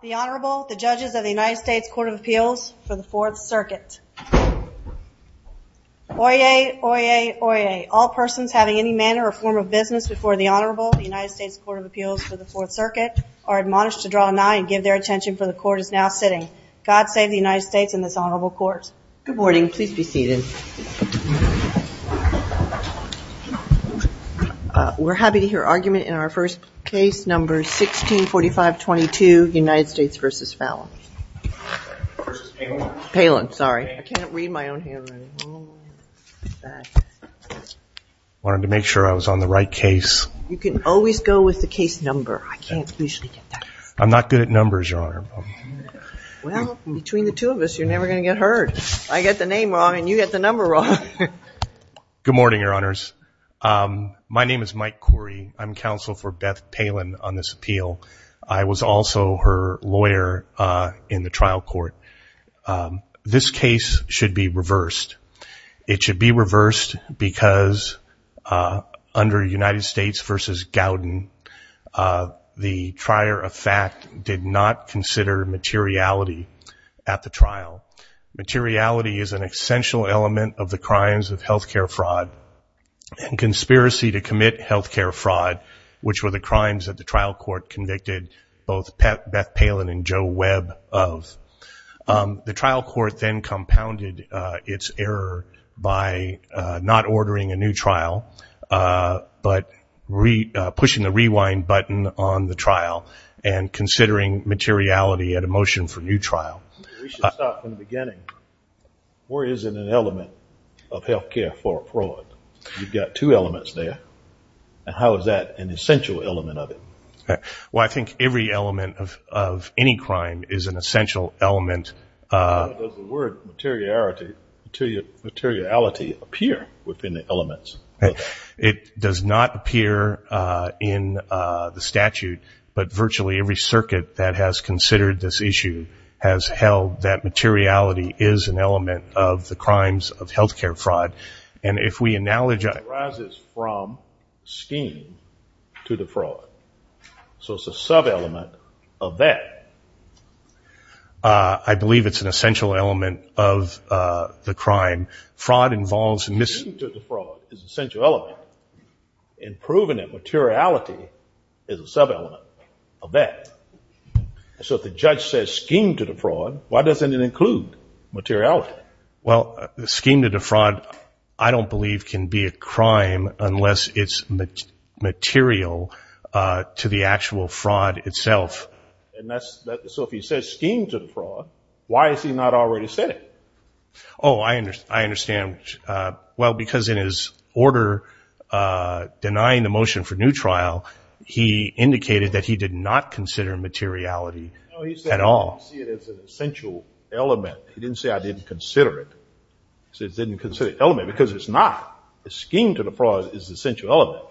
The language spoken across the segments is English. The Honorable, the Judges of the United States Court of Appeals for the Fourth Circuit. Oyez, Oyez, Oyez. All persons having any manner or form of business before the Honorable of the United States Court of Appeals for the Fourth Circuit are admonished to draw a nine and give their attention for the Court is now sitting. God save the United States and this Honorable Court. Good morning. Please be seated. We're happy to hear argument in our first case, number 164522, United States v. Fallon. Palin, sorry. I can't read my own hand. I wanted to make sure I was on the right case. You can always go with the case number. I can't usually get that. I'm not good at numbers, Your Honor. Between the two of us, you're never going to get hurt. I get the name wrong and you get the number wrong. Good morning, Your Honors. My name is Mike Corey. I'm counsel for Beth Palin on this appeal. I was also her lawyer in the trial court. This case should be reversed. It should be reversed because under United States v. Gowden, the trier of fact did not consider materiality at the trial. Materiality is an essential element of the crimes of health care fraud and conspiracy to commit health care fraud, which were the crimes that the trial court convicted both Beth Palin and Joe Webb of. The trial court then compounded its error by not ordering a new trial, but pushing the rewind button on the trial and considering materiality at a motion for new trial. We should start from the beginning. Where is an element of health care fraud? You've got two elements there. How is that an essential element of it? Well, I think every element of any crime is an essential element. Does the word materiality appear within the elements? It does not appear in the statute, but virtually every circuit that has considered this issue has held that materiality is an element of the crimes of health care fraud. It arises from scheme to the fraud. It's a sub-element of that. I believe it's an essential element of the crime. Fraud involves... Scheme to the fraud is an essential element, and proving that materiality is a sub-element of that. So if the judge says scheme to the fraud, why doesn't it include materiality? Well, the scheme to the fraud, I don't believe can be a crime unless it's material to the actual fraud itself. So if he says scheme to the fraud, why has he not already said it? Oh, I understand. Well, because in his order denying the motion for new trial, he indicated that he did not consider materiality at all. No, he said he didn't see it as an essential element. He didn't say I didn't consider it. He said he didn't consider it an element, because it's not. The scheme to the fraud is an essential element.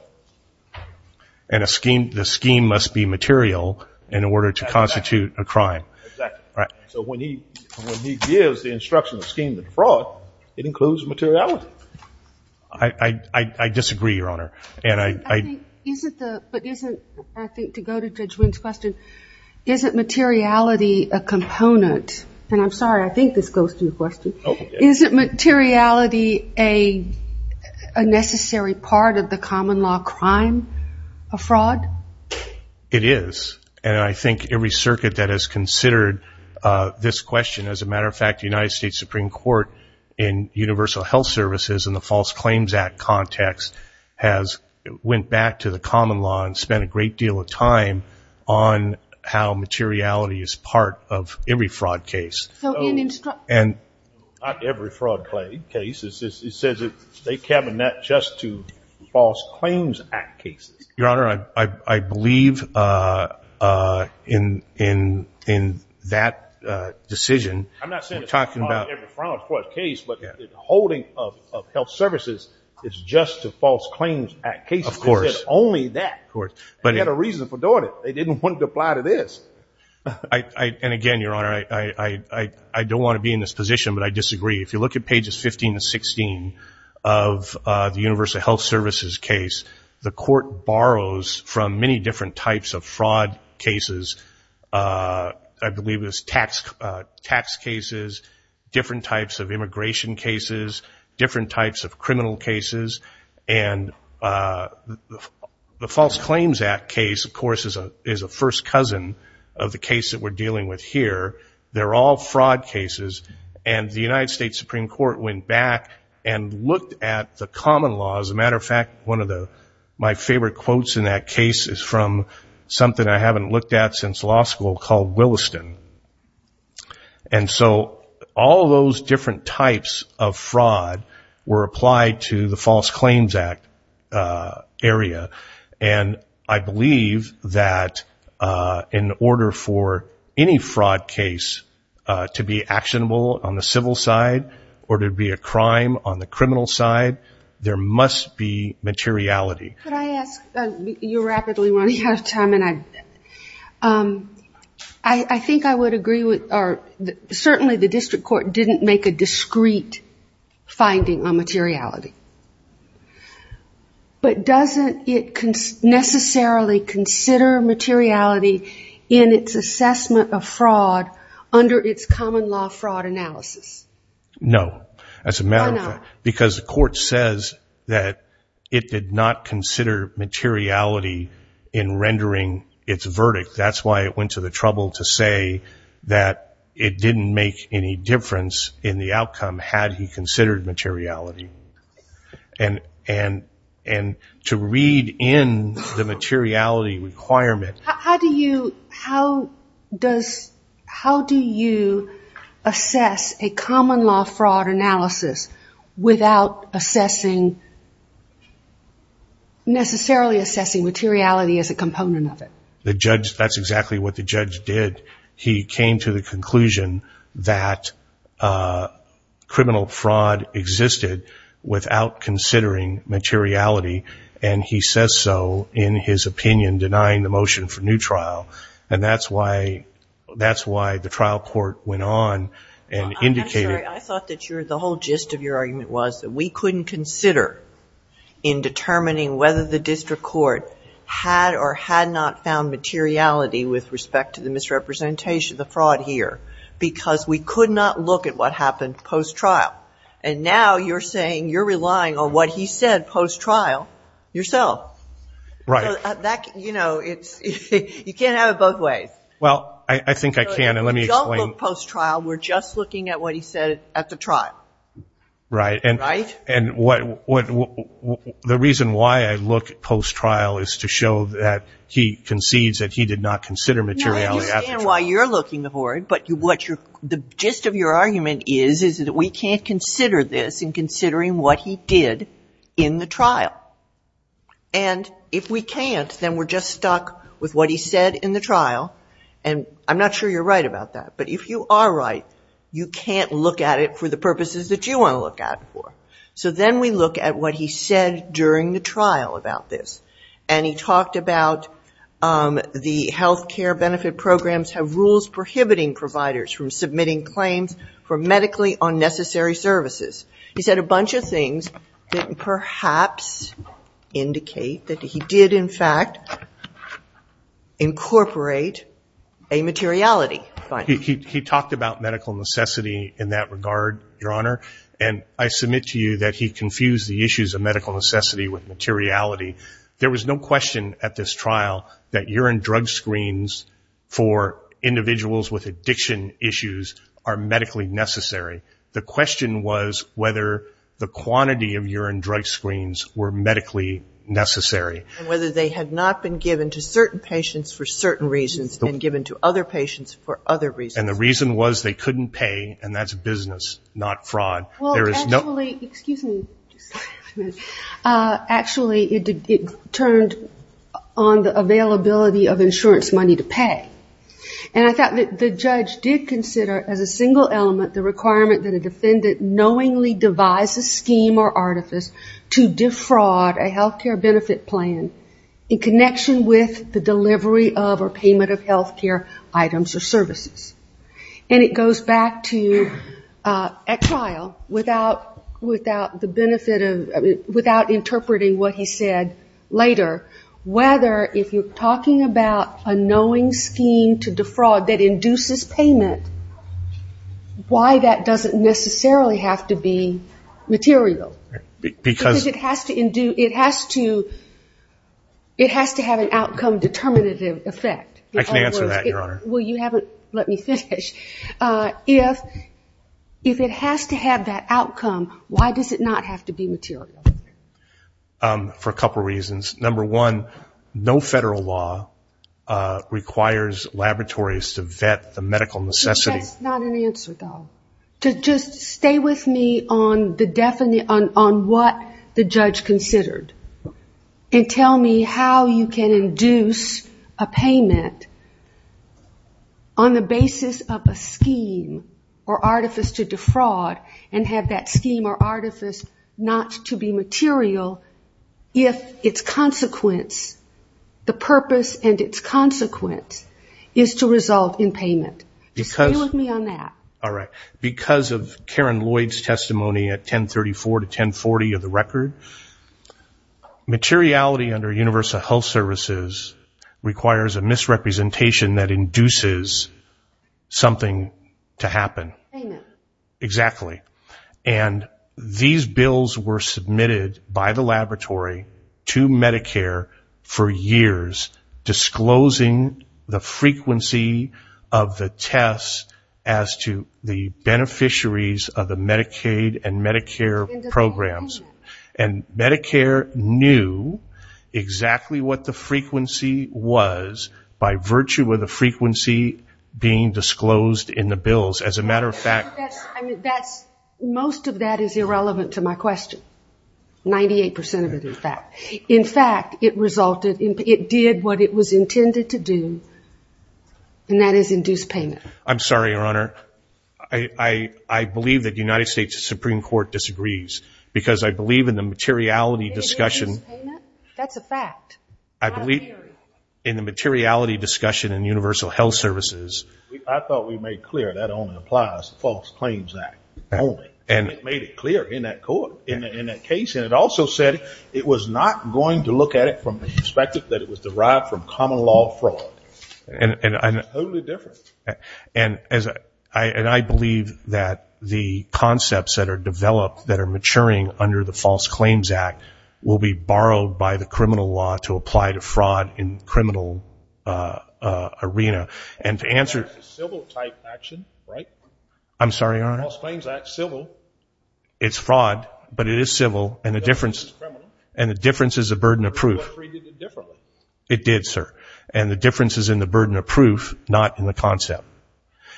And the scheme must be material in order to constitute a crime. Exactly. So when he gives the instruction of scheme to the fraud, it includes materiality. I disagree, Your Honor. But isn't, I think to go to Judge Wynn's question, isn't materiality a component? And I'm sorry, I think this goes to the question. Isn't materiality a necessary part of the common law crime of fraud? It is. And I think every circuit that has considered this question, as a matter of fact, the United States Supreme Court in universal health services in the False Claims Act context has went back to the common law and spent a great deal of time on how materiality is part of every fraud case. Not every fraud case. It says that they cabinet just to False Claims Act cases. Your Honor, I believe in that decision. I'm not saying every fraud case, but the holding of health services is just to False Claims Act cases. Of course. Only that. They had a reason for doing it. They didn't want to apply to this. And again, Your Honor, I don't want to be in this position, but I disagree. If you look at pages 15 and 16 of the universal health services case, the court borrows from many different types of fraud cases. I believe it's tax cases, different types of immigration cases, different types of criminal cases. And the False Claims Act case, of course, is a first cousin of the case that we're dealing with here. They're all fraud cases. And the United States Supreme Court went back and looked at the common law. As a matter of fact, one of my favorite quotes in that case is from something I haven't looked at since law school called Williston. And so all those different types of fraud were applied to the False Claims Act area. And I believe that in order for any fraud case to be actionable on the civil side or to be a crime on the criminal side, there must be materiality. Could I ask, you're rapidly running out of time, and I think I would agree with, or certainly the materiality. But doesn't it necessarily consider materiality in its assessment of fraud under its common law fraud analysis? No, as a matter of fact, because the court says that it did not consider materiality in rendering its verdict. That's why it went to the trouble to say that it didn't make any difference in the outcome had he considered materiality. And to read in the materiality requirement... How do you assess a common law fraud analysis without necessarily assessing materiality as a component of it? That's exactly what the judge did. He came to the conclusion that criminal fraud existed without considering materiality, and he says so in his opinion, denying the motion for new trial. And that's why the trial court went on and indicated... I'm sorry, I thought that the whole gist of your argument was that we couldn't consider in determining whether the district court had or had not found materiality with respect to the misrepresentation of the fraud here, because we could not look at what happened post-trial. And now you're saying you're relying on what he said post-trial yourself. Right. You know, you can't have it both ways. Well, I think I can, and let me explain. Don't look post-trial. We're just looking at what he said at the trial. Right. And the reason why I look post-trial is to show that he concedes that he did not consider materiality at the trial. No, I understand why you're looking for it, but the gist of your argument is that we can't consider this in considering what he did in the trial. And if we can't, then we're just stuck with what he said in the trial, and I'm not sure you're right about that. But if you are right, you can't look at it for the purposes that you want to look at it for. So then we look at what he said during the trial about this. And he talked about the health care benefit programs have rules prohibiting providers from submitting claims for medically unnecessary services. He said a bunch of things that perhaps indicate that he did, in fact, incorporate a materiality. He talked about medical necessity in that regard, Your Honor, and I submit to you that he confused the issues of materiality. There was no question at this trial that urine drug screens for individuals with addiction issues are medically necessary. The question was whether the quantity of urine drug screens were medically necessary. And whether they had not been given to certain patients for certain reasons and given to other patients for other reasons. And the reason was they couldn't pay, and that's business, not fraud. Actually, it turned on the availability of insurance money to pay. And I thought that the judge did consider as a single element the requirement that a defendant knowingly devise a scheme or artifice to defraud a health care benefit plan in connection with the at trial without the benefit of, without interpreting what he said later, whether if you're talking about a knowing scheme to defraud that induces payment, why that doesn't necessarily have to be material. Because it has to have an outcome determinative effect. Well, you haven't let me finish. If it has to have that outcome, why does it not have to be material? For a couple reasons. Number one, no federal law requires laboratories to vet the medical necessity. That's not an answer, though. Just stay with me on what the judge considered. And tell me how you can induce a payment on the basis of a scheme or artifice to defraud and have that scheme or artifice not to be material if its consequence, the purpose and its consequence, is to result in payment. Just stay with me on that. All right. Because of Karen Lloyd's testimony at 1034 to 1040 of the record, materiality under universal health services requires a misrepresentation that induces something to happen. Amen. Exactly. And these bills were submitted by the laboratory to Medicare for years, disclosing the frequency of the tests as to the beneficiaries of the Medicaid and Medicare programs. And Medicare knew exactly what the frequency was by virtue of the frequency being disclosed in the bills. As a matter of fact... Most of that is irrelevant to my question. 98% of it is that. In fact, it did what it was intended to do, and that is induce payment. I'm sorry, Your Honor. I believe that the United States Supreme Court disagrees because I believe in the materiality discussion... That's a fact. I believe in the materiality discussion in universal health services... I thought we made clear that only applies to False Claims Act only. And it made it clear in that case. And it also said it was not going to look at it from the perspective that it was derived from common law fraud. Totally different. And I believe that the concepts that are developed that are maturing under the False Claims Act will be borrowed by the criminal law to apply to fraud in criminal arena. And to answer... That's a civil type action, right? I'm sorry, Your Honor. False Claims Act, civil. It's fraud, but it is civil. And the difference is a burden of proof. It did, sir. And the difference is in the burden of proof, not in the concept.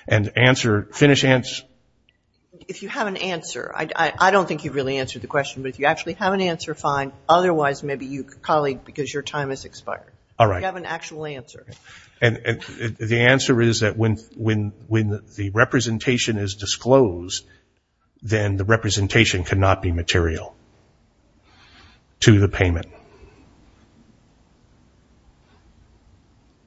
And to answer... If you have an answer, I don't think you've really answered the question, but if you actually have an answer, fine. Otherwise, maybe you, colleague, because your time has expired. All right. You have an actual answer. And the answer is that when the representation is disclosed, then the representation cannot be material to the payment.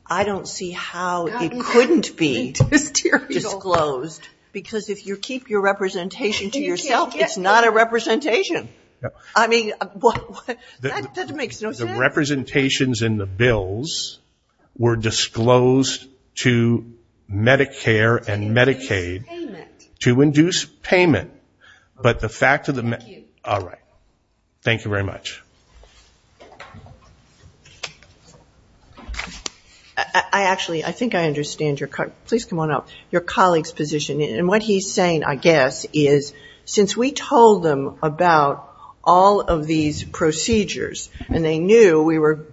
I don't see how it couldn't be disclosed because if you keep your representation to yourself, it's not a representation. I mean, that makes no sense. Representations in the bills were disclosed to Medicare and Medicaid to induce payment, but the fact of the... Thank you. All right. Thank you very much. I actually, I think I understand your, please come on up, your colleague's position. And what he's saying, I guess, is since we told them about all of these procedures, and they knew we were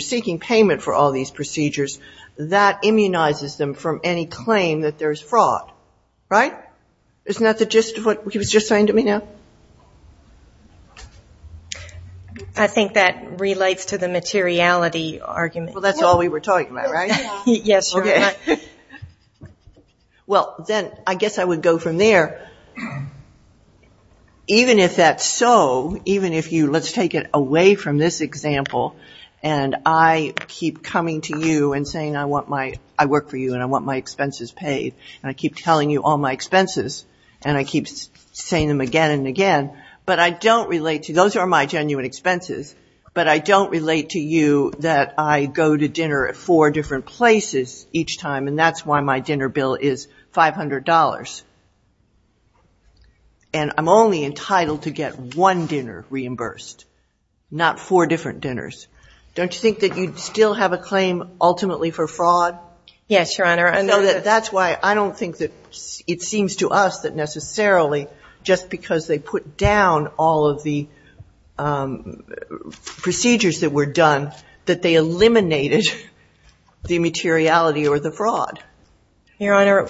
seeking payment for all these procedures, that immunizes them from any claim that there's fraud, right? Isn't that the gist of what he was just saying to me now? I think that relates to the materiality argument. Well, that's all we were talking about, right? Yes. Well, then I guess I would go from there. So, even if that's so, even if you, let's take it away from this example, and I keep coming to you and saying I work for you and I want my expenses paid, and I keep telling you all my expenses, and I keep saying them again and again, but I don't relate to, those are my genuine expenses, but I don't relate to you that I go to dinner at four different places each time, and that's why my dinner bill is $500. And I'm only entitled to get one dinner reimbursed, not four different dinners. Don't you think that you'd still have a claim ultimately for fraud? Yes, Your Honor. And that's why I don't think that it seems to us that necessarily, just because they put down all of the procedures that were done, that they eliminated the materiality or the fraud. Your Honor,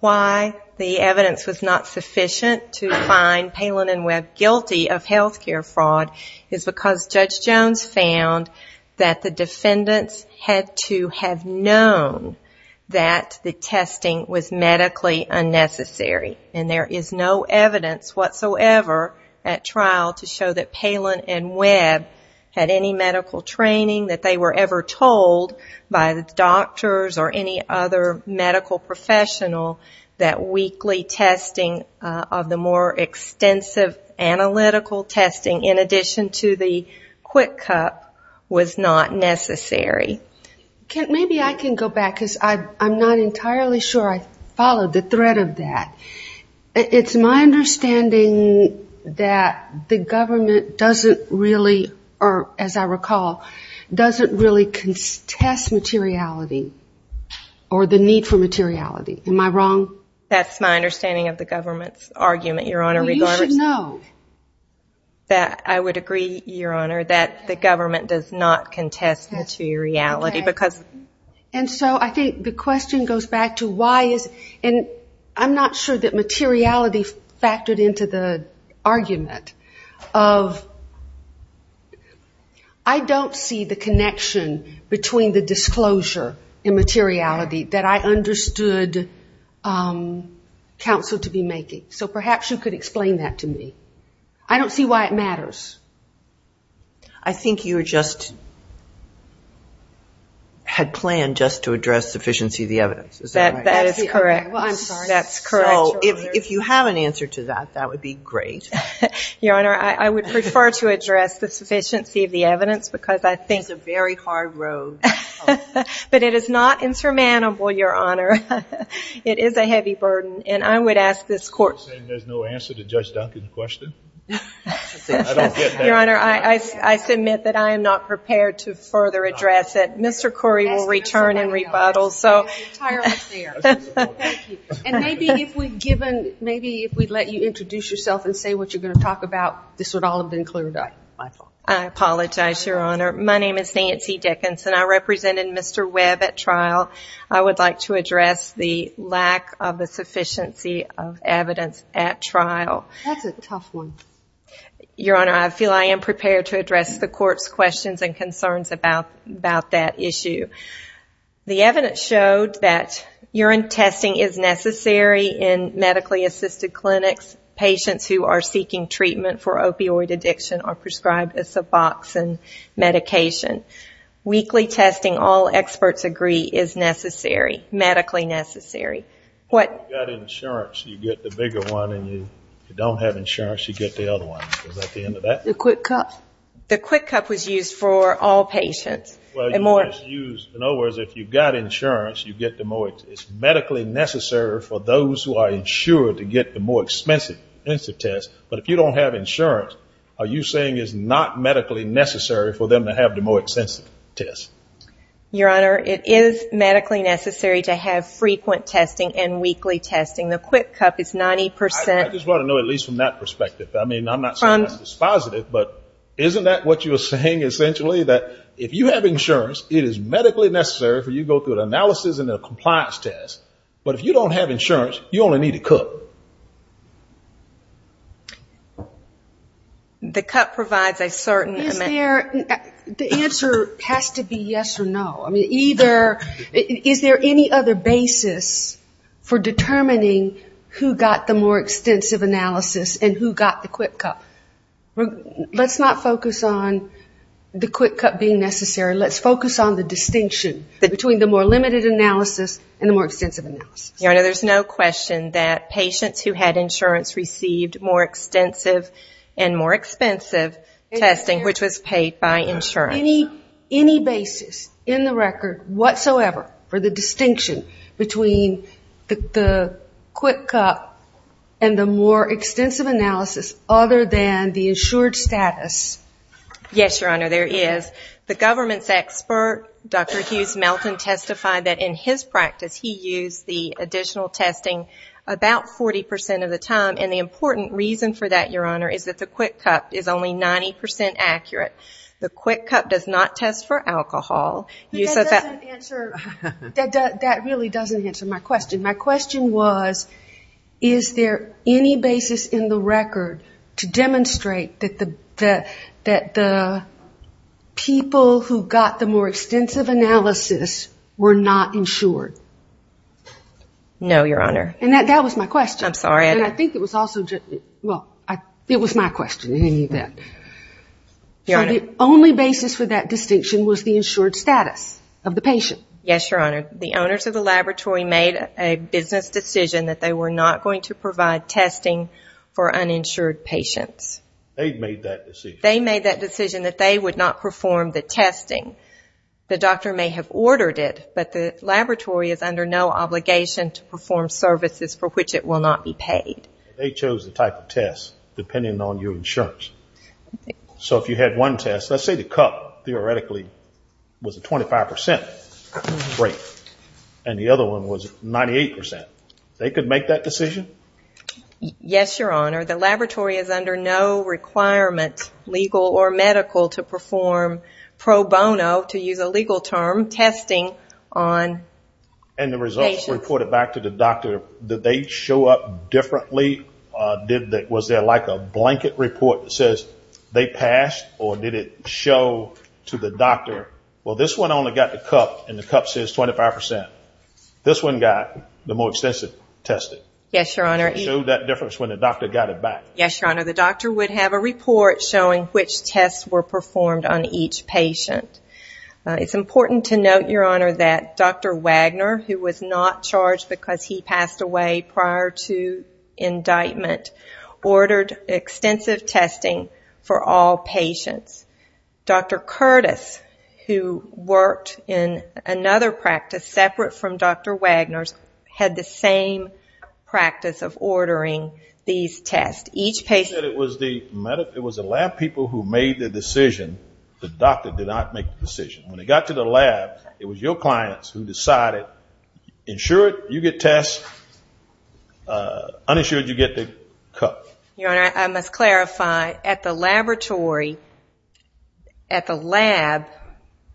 why the evidence was not sufficient to find Palin and Webb guilty of healthcare fraud is because Judge Jones found that the defendants had to have known that the testing was medically unnecessary. And there is no evidence whatsoever at trial to show that Palin and Webb had any medical training that they were ever told by the doctors or any other medical professional that weekly testing of the more extensive analytical testing in addition to the Quick Cup was not necessary. Maybe I can go back, because I'm not entirely sure I followed the thread of that. It's my understanding that the government doesn't really, or as I recall, doesn't really contest materiality or the need for materiality. Am I wrong? That's my understanding of the government's argument, Your Honor. Well, you should know. I would agree, Your Honor, that the government does not contest materiality. And so I think the question goes back to why is, and I'm not sure that materiality factored into the argument of, I don't see the connection between the disclosure and materiality that I understood counsel to be making. So perhaps you could explain that to me. I don't see why it matters. I think you just had planned just to address sufficiency of the evidence. Is that right? That is correct. Well, I'm sorry. That's correct. So if you have an answer to that, that would be great. Your Honor, I would prefer to address the sufficiency of the evidence because I think It's a very hard road. But it is not insurmountable, Your Honor. It is a heavy burden. And I would ask this court Are you saying there's no answer to Judge Duncan's question? Your Honor, I submit that I am not prepared to further address it. Mr. Corey will return and rebuttal. So That's entirely fair. Thank you. And maybe if we've given, maybe if we'd let you introduce yourself and say what you're going to talk about, this would all have been cleared up, I thought. I apologize, Your Honor. My name is Nancy Dickinson. I represented Mr. Webb at trial. I would like to address the lack of the sufficiency of evidence at trial. That's a tough one. Your Honor, I feel I am prepared to address the court's questions and concerns about that issue. The evidence showed that urine testing is necessary in medically assisted clinics. Patients who are seeking treatment for opioid addiction are prescribed a Suboxone medication. Weekly testing, all experts agree, is necessary, medically necessary. If you've got insurance, you get the bigger one. And if you don't have insurance, you get the other one. Is that the end of that? The Quick Cup. The Quick Cup was used for all patients. Well, it's used, in other words, if you've got insurance, you get the more, it's medically necessary for those who are insured to get the more expensive tests. But if you don't have insurance, are you saying it's not medically necessary for them to have the more expensive tests? Your Honor, it is medically necessary to have frequent testing and weekly testing. The Quick Cup is 90%. I just want to know, at least from that perspective, I mean, I'm not saying it's positive, but isn't that what you're saying, essentially, that if you have insurance, it is medically necessary for you to go through an analysis and a compliance test. But if you don't have insurance, you only need a cup. The cup provides a certain amount. Is there, the answer has to be yes or no. I mean, either, is there any other basis for determining who got the more extensive analysis and who got the Quick Cup? Let's not focus on the Quick Cup being necessary. Let's focus on the distinction between the more limited analysis and the more extensive analysis. Your Honor, there's no question that patients who had insurance received more extensive and more expensive testing, which was paid by insurance. Any basis in the record whatsoever for the distinction between the Quick Cup and the more extensive analysis other than the insured status? Yes, Your Honor, there is. The government's expert, Dr. Hughes Melton, testified that in his practice, he used the additional testing about 40% of the time. And the important reason for that, Your Honor, is that the Quick Cup is only 90% accurate. The Quick Cup does not test for alcohol. That really doesn't answer my question. My question was, is there any basis in the record to demonstrate that the people who got the more extensive analysis were not insured? No, Your Honor. And that was my question. I'm sorry. And I think it was also, well, it was my question. You didn't need that. Your Honor. So the only basis for that distinction was the insured status of the patient. Yes, Your Honor. The owners of the laboratory made a business decision that they were not going to provide testing for uninsured patients. They made that decision. They made that decision that they would not perform the testing. The doctor may have ordered it, but the laboratory is under no obligation to perform services for which it will not be paid. They chose the type of test depending on your insurance. So if you had one test, let's say the cup theoretically was a 25%. Great. And the other one was 98%. They could make that decision? Yes, Your Honor. The laboratory is under no requirement, legal or medical, to perform pro bono, to use a legal term, testing on patients. And the results were reported back to the doctor. Did they show up differently? Well, this one only got the cup and the cup says 25%. This one got the more extensive testing. Yes, Your Honor. Did it show that difference when the doctor got it back? Yes, Your Honor. The doctor would have a report showing which tests were performed on each patient. It's important to note, Your Honor, that Dr. Wagner, who was not charged because he passed away prior to indictment, ordered extensive testing for all patients. Dr. Curtis, who worked in another practice separate from Dr. Wagner's, had the same practice of ordering these tests. Each patient... You said it was the lab people who made the decision. The doctor did not make the decision. When it got to the lab, it was your clients who decided, insured you get tests, uninsured you get the cup. Your Honor, I must clarify, at the laboratory, at the lab,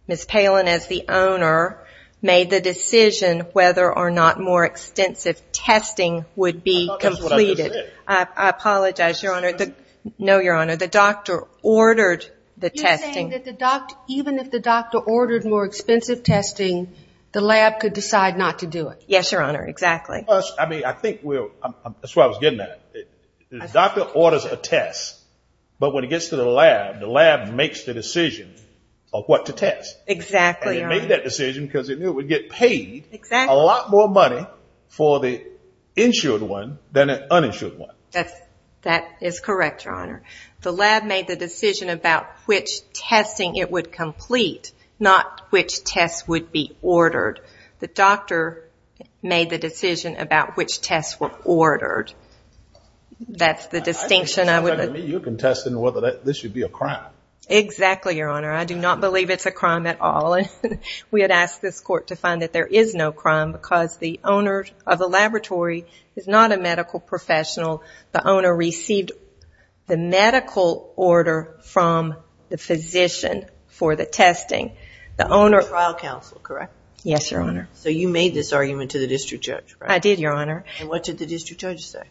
Ms. Palin, as the owner, made the decision whether or not more extensive testing would be completed. I thought that's what I just said. I apologize, Your Honor. No, Your Honor. The doctor ordered the testing. You're saying that even if the doctor ordered more expensive testing, the lab could decide not to do it? Yes, Your Honor. Exactly. I mean, I think we'll... That's where I was getting at. The doctor orders a test, but when it gets to the lab, the lab makes the decision of what to test. Exactly, Your Honor. And it made that decision because it knew it would get paid a lot more money for the insured one than an uninsured one. That is correct, Your Honor. The lab made the decision about which testing it would complete, not which tests would be ordered. The doctor made the decision about which tests were ordered. That's the distinction. I think you're contesting whether this should be a crime. Exactly, Your Honor. I do not believe it's a crime at all. We had asked this court to find that there is no crime because the owner of the laboratory is not a medical professional. The owner received the medical order from the physician for the testing. The owner... The trial counsel, correct? Yes, Your Honor. So you made this argument to the district judge, right? I did, Your Honor. And what did the district judge say?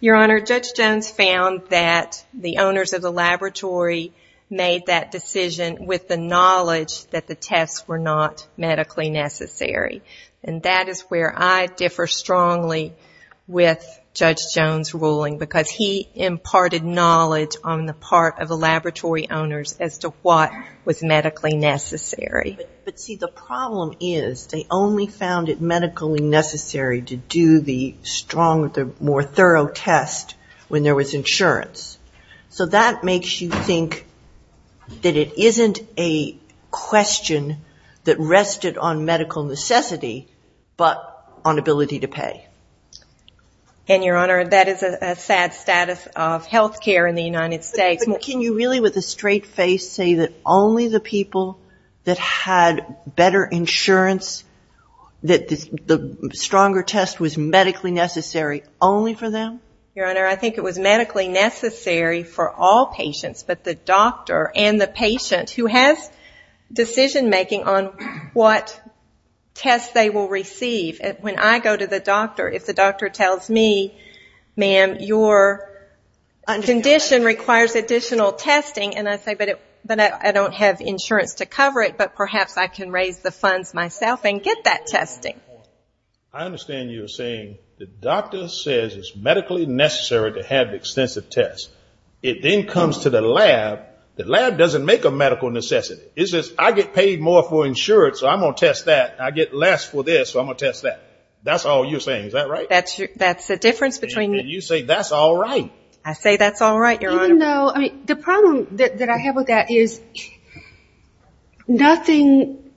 Your Honor, Judge Jones found that the owners of the laboratory made that decision with the knowledge that the tests were not medically necessary. And that is where I differ strongly with Judge Jones' ruling because he imparted knowledge on the part of the laboratory owners as to what was medically necessary. But see, the problem is they only found it medically necessary to do the strong, the more thorough test when there was insurance. So that makes you think that it isn't a question that rested on medical necessity, but on ability to pay. And Your Honor, that is a sad status of healthcare in the United States. Can you really, with a straight face, say that only the people that had better insurance, that the stronger test was medically necessary only for them? Your Honor, I think it was medically necessary for all patients, but the doctor and the patient who has decision-making on what tests they will receive. When I go to the doctor, if the doctor tells me, ma'am, your condition requires additional testing, and I say, but I don't have insurance to cover it, but perhaps I can raise the funds myself and get that testing. I understand you're saying the doctor says it's medically necessary to have extensive tests. It then comes to the lab. The lab doesn't make a medical necessity. It says, I get paid more for insurance, so I'm going to test that. I get less for this, so I'm going to test that. That's all you're saying, is that right? That's a difference between... I say that's all right, Your Honor. The problem that I have with that is nothing,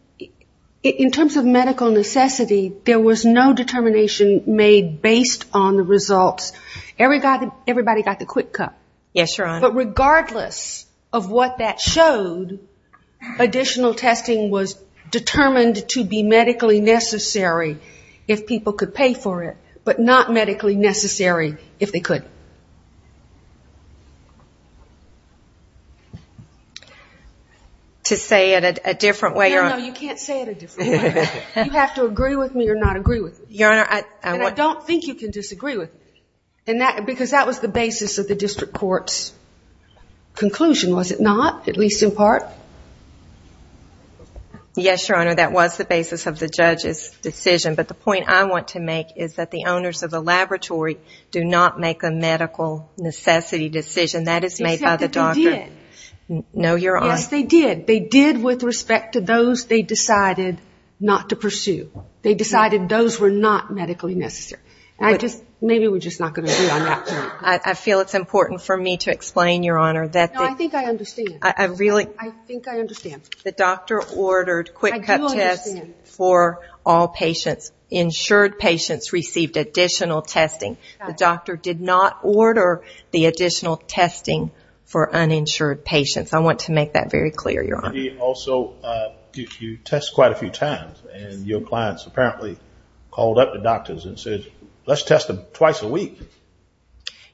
in terms of medical necessity, there was no determination made based on the results. Everybody got the quick cut. Yes, Your Honor. But regardless of what that showed, additional testing was determined to be medically necessary if people could pay for it, but not medically necessary if they could. No, no, you can't say it a different way. You have to agree with me or not agree with me. Your Honor, I want... And I don't think you can disagree with me, because that was the basis of the district court's conclusion, was it not? At least in part. Yes, Your Honor, that was the basis of the judge's decision, but the point I want to make is that the owners of the laboratory do not make a medical necessity decision. That's a medical necessity. Except that they did. No, Your Honor. Yes, they did. They did with respect to those they decided not to pursue. They decided those were not medically necessary. I just... Maybe we're just not going to agree on that point. I feel it's important for me to explain, Your Honor, that... No, I think I understand. I really... I think I understand. The doctor ordered quick cut tests for all patients, insured patients received additional testing. The doctor did not order the additional testing for uninsured patients. I want to make that very clear, Your Honor. And he also... You test quite a few times, and your clients apparently called up the doctors and said, let's test them twice a week.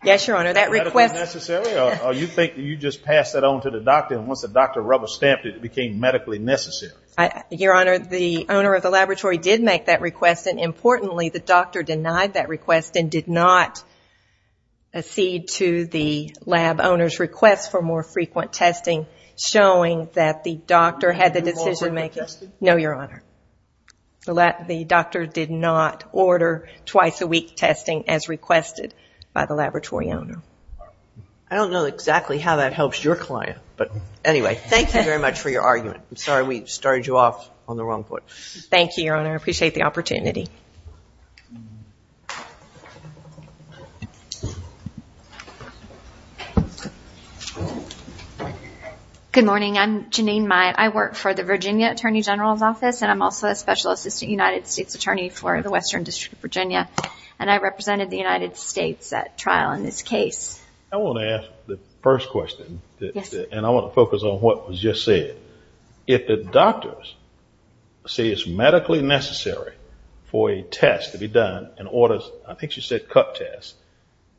Yes, Your Honor, that request... Medically necessary, or you think you just pass that on to the doctor, and once the doctor rubber stamped it, it became medically necessary? Your Honor, the owner of the laboratory did make that request, and importantly, the doctor denied that request and did not accede to the lab owner's request for more frequent testing, showing that the doctor had the decision... No, Your Honor. The doctor did not order twice a week testing as requested by the laboratory owner. I don't know exactly how that helps your client, but anyway, thank you very much for your argument. Thank you, Your Honor. I appreciate the opportunity. Good morning. I'm Janine Myatt. I work for the Virginia Attorney General's Office, and I'm also a Special Assistant United States Attorney for the Western District of Virginia, and I represented the United States at trial in this case. I want to ask the first question, and I want to focus on what was just said. If the doctors say it's medically necessary for a test to be done and orders, I think she said cup test,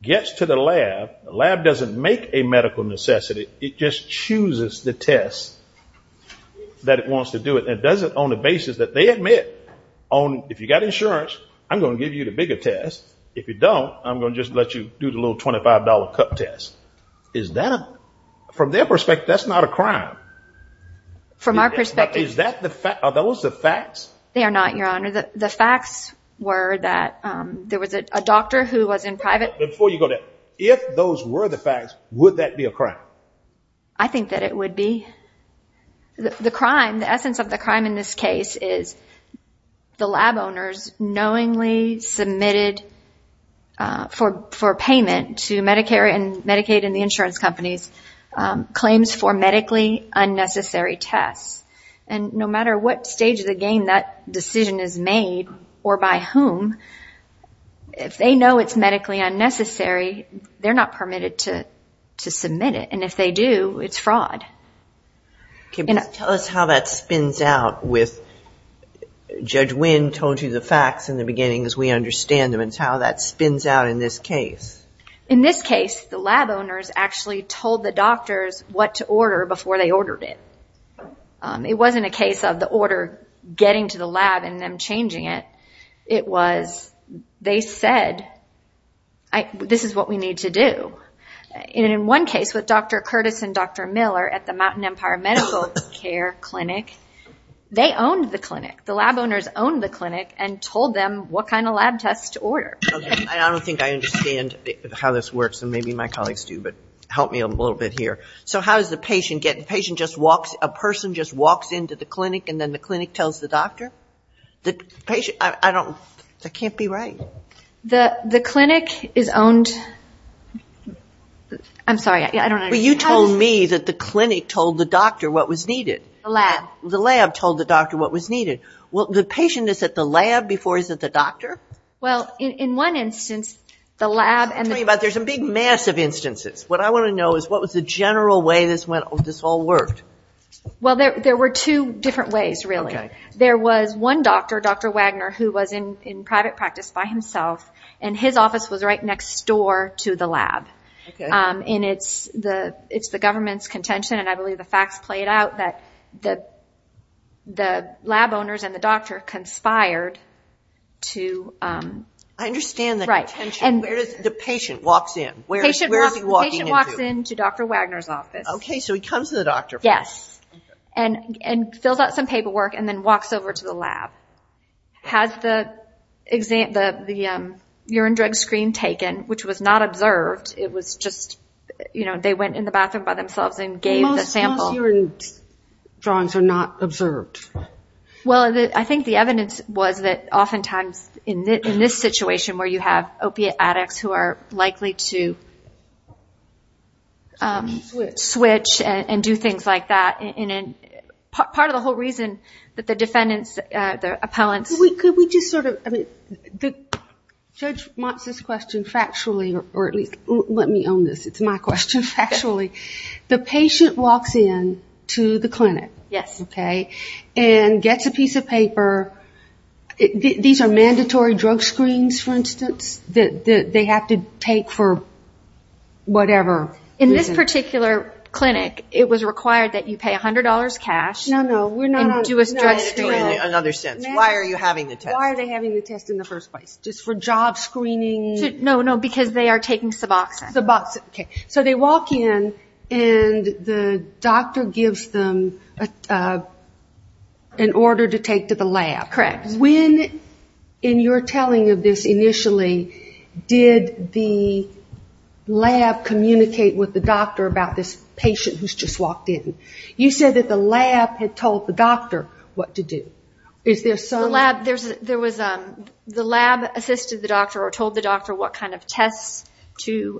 gets to the lab, the lab doesn't make a medical necessity, it just chooses the test that it wants to do it, and does it on the basis that they admit, on if you've got insurance, I'm going to give you the bigger test. If you don't, I'm going to just let you do the little $25 cup test. Is that a... From their perspective, that's not a crime. From our perspective... Is that the fact... Are those the facts? They are not, Your Honor. The facts were that there was a doctor who was in private... Before you go there, if those were the facts, would that be a crime? I think that it would be. The crime, the essence of the crime in this case is the lab owners knowingly submitted for payment to Medicare and Medicaid and the insurance companies claims for medically unnecessary tests. And no matter what stage of the game that decision is made or by whom, if they know it's medically unnecessary, they're not permitted to submit it. And if they do, it's fraud. Can you tell us how that spins out with Judge Winn told you the facts in the beginning as we understand them, and how that spins out in this case? In this case, the lab owners actually told the doctors what to order before they ordered it. It wasn't a case of the order getting to the lab and them changing it. It was, they said, this is what we need to do. And in one case with Dr. Curtis and Dr. Miller at the Mountain Empire Medical Care Clinic, they owned the clinic. The lab owners owned the clinic and told them what kind of lab tests to order. I don't think I understand how this works, and maybe my colleagues do, but help me a little bit here. So how does the patient get, the patient just walks, a person just walks into the clinic and then the clinic tells the doctor? The patient, I don't, that can't be right. The clinic is owned, I'm sorry, I don't understand. Well, you told me that the clinic told the doctor what was needed. The lab. The lab told the doctor what was needed. Well, the patient is at the lab before he's at the doctor? Well, in one instance, the lab and the- I'm talking about there's a big mass of instances. What I want to know is what was the general way this went, this all worked? Well, there were two different ways, really. There was one doctor, Dr. Wagner, who was in private practice by himself, and his office was right next door to the lab. And it's the government's contention, and I believe the facts played out, that the lab owners and the doctor conspired to- I understand the contention. Where does the patient walks in? The patient walks in to Dr. Wagner's office. Okay, so he comes to the doctor first. Yes, and fills out some paperwork and then walks over to the lab. Has the urine drug screen taken, which was not observed, it was just, you know, they went in the bathroom by themselves and gave the sample. Most urine drawings are not observed. Well, I think the evidence was that oftentimes in this situation where you have opiate addicts who are likely to switch and do things like that. Part of the whole reason that the defendants, the appellants- Could we just sort of- Judge Motz's question factually, or at least let me own this. It's my question factually. The patient walks in to the clinic. Yes. Okay, and gets a piece of paper. These are mandatory drug screens, for instance, that they have to take for whatever reason. In this particular clinic, it was required that you pay $100 cash- No, no, we're not- And do a drug screening. Another sense. Why are you having the test? Why are they having the test in the first place? Just for job screening? No, no, because they are taking Suboxone. Suboxone, okay. So they walk in and the doctor gives them an order to take to the lab. Correct. When, in your telling of this initially, did the lab communicate with the doctor about this patient who's just walked in? You said that the lab had told the doctor what to do. Is there some- The lab, there was- The lab assisted the doctor or told the doctor what kind of tests to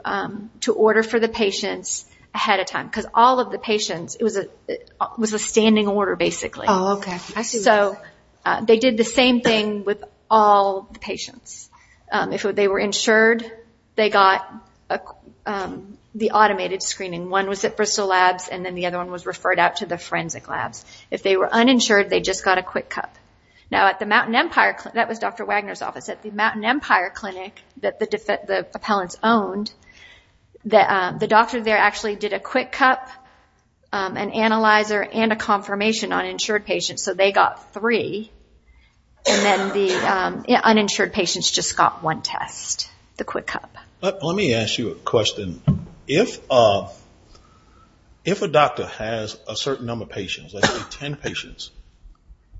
order for the patients ahead of time. Because all of the patients, it was a standing order, basically. Oh, okay. I see. So they did the same thing with all the patients. If they were insured, they got the automated screening. One was at Bristol Labs and then the other one was referred out to the forensic labs. If they were uninsured, they just got a quick cup. Now, at the Mountain Empire, that was Dr. Wagner's office, at the Mountain Empire Clinic that the appellants owned, the doctor there actually did a quick cup, an analyzer, and a confirmation on insured patients. So they got three and then the uninsured patients just got one test, the quick cup. Let me ask you a question. If a doctor has a certain number of patients, let's say 10 patients,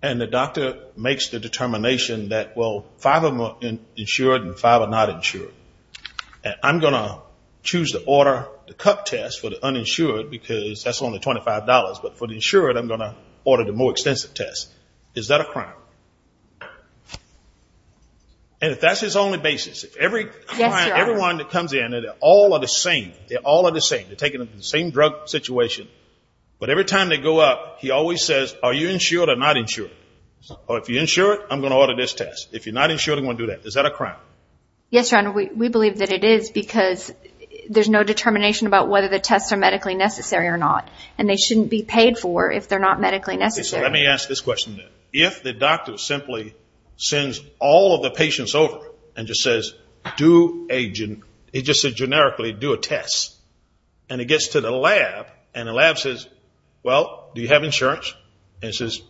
and the doctor makes the determination that, well, five of them are insured and five are not insured, and I'm going to choose to order the cup test for the uninsured because that's only $25. But for the insured, I'm going to order the more extensive test. Is that a crime? And if that's his only basis, if every client, everyone that comes in, they're all the same. They're all the same. They're taking the same drug situation. But every time they go up, he always says, are you insured or not insured? Or if you're insured, I'm going to order this test. If you're not insured, I'm going to do that. Is that a crime? Yes, Your Honor, we believe that it is because there's no determination about whether the tests are medically necessary or not. And they shouldn't be paid for if they're not medically necessary. So let me ask this question then. If the doctor simply sends all of the patients over and just says, do a, he just said generically, do a test. And it gets to the lab and the lab says, well, do you have insurance? And it says,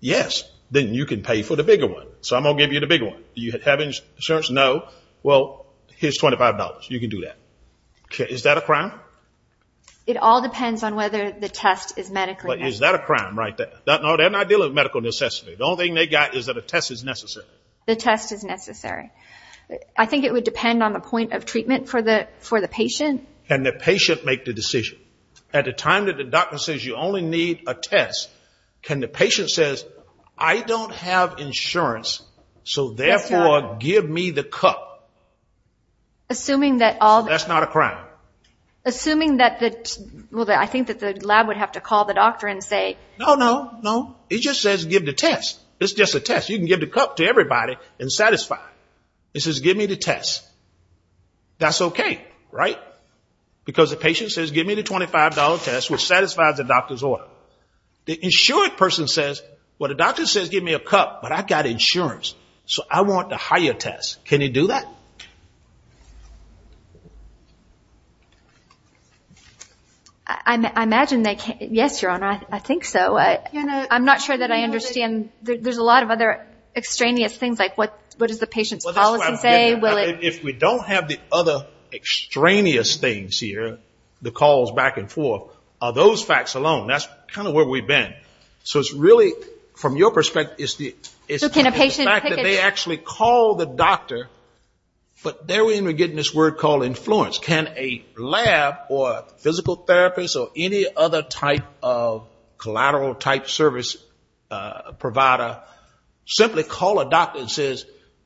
yes. Then you can pay for the bigger one. So I'm going to give you the bigger one. Do you have insurance? No. Well, here's $25. You can do that. Is that a crime? It all depends on whether the test is medically necessary. But is that a crime, right? No, they're not dealing with medical necessity. The only thing they got is that a test is necessary. The test is necessary. I think it would depend on the point of treatment for the patient. Can the patient make the decision? At the time that the doctor says you only need a test, can the patient says, I don't have insurance. So therefore, give me the cup. Assuming that all... That's not a crime. Assuming that the, well, I think that the lab would have to call the doctor and say... No, no, no. It just says, give the test. It's just a test. You can give the cup to everybody and satisfy. It says, give me the test. That's okay, right? Because the patient says, give me the $25 test, which satisfies the doctor's order. The insured person says, well, the doctor says, give me a cup. But I've got insurance. So I want the higher test. Can you do that? I imagine they can. Yes, Your Honor. I think so. I'm not sure that I understand. There's a lot of other extraneous things, like what does the patient's policy say? If we don't have the other extraneous things here, the calls back and forth, are those facts alone? That's kind of where we've been. So it's really, from your perspective, it's the fact that they actually call the doctor, but they're even getting this word called influence. Can a lab or physical therapist or any other type of collateral type service provider simply call a doctor and say,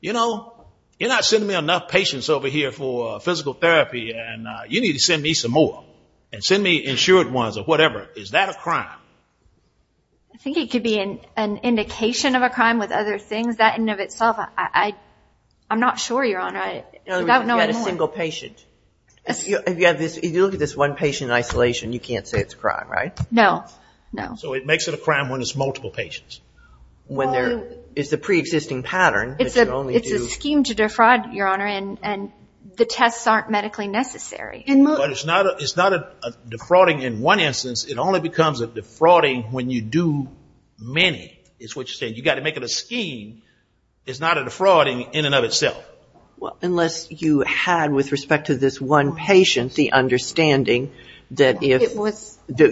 you know, you're not sending me enough patients over here for physical therapy, and you need to send me some more. And send me insured ones or whatever. Is that a crime? I think it could be an indication of a crime with other things. That in and of itself, I'm not sure, Your Honor. You've got a single patient. If you look at this one patient in isolation, you can't say it's a crime, right? No, no. So it makes it a crime when it's multiple patients. When there is a preexisting pattern. It's a scheme to defraud, Your Honor, and the tests aren't medically necessary. It's not a defrauding in one instance. It only becomes a defrauding when you do many. It's what you're saying. You've got to make it a scheme. It's not a defrauding in and of itself. Unless you had, with respect to this one patient, the understanding that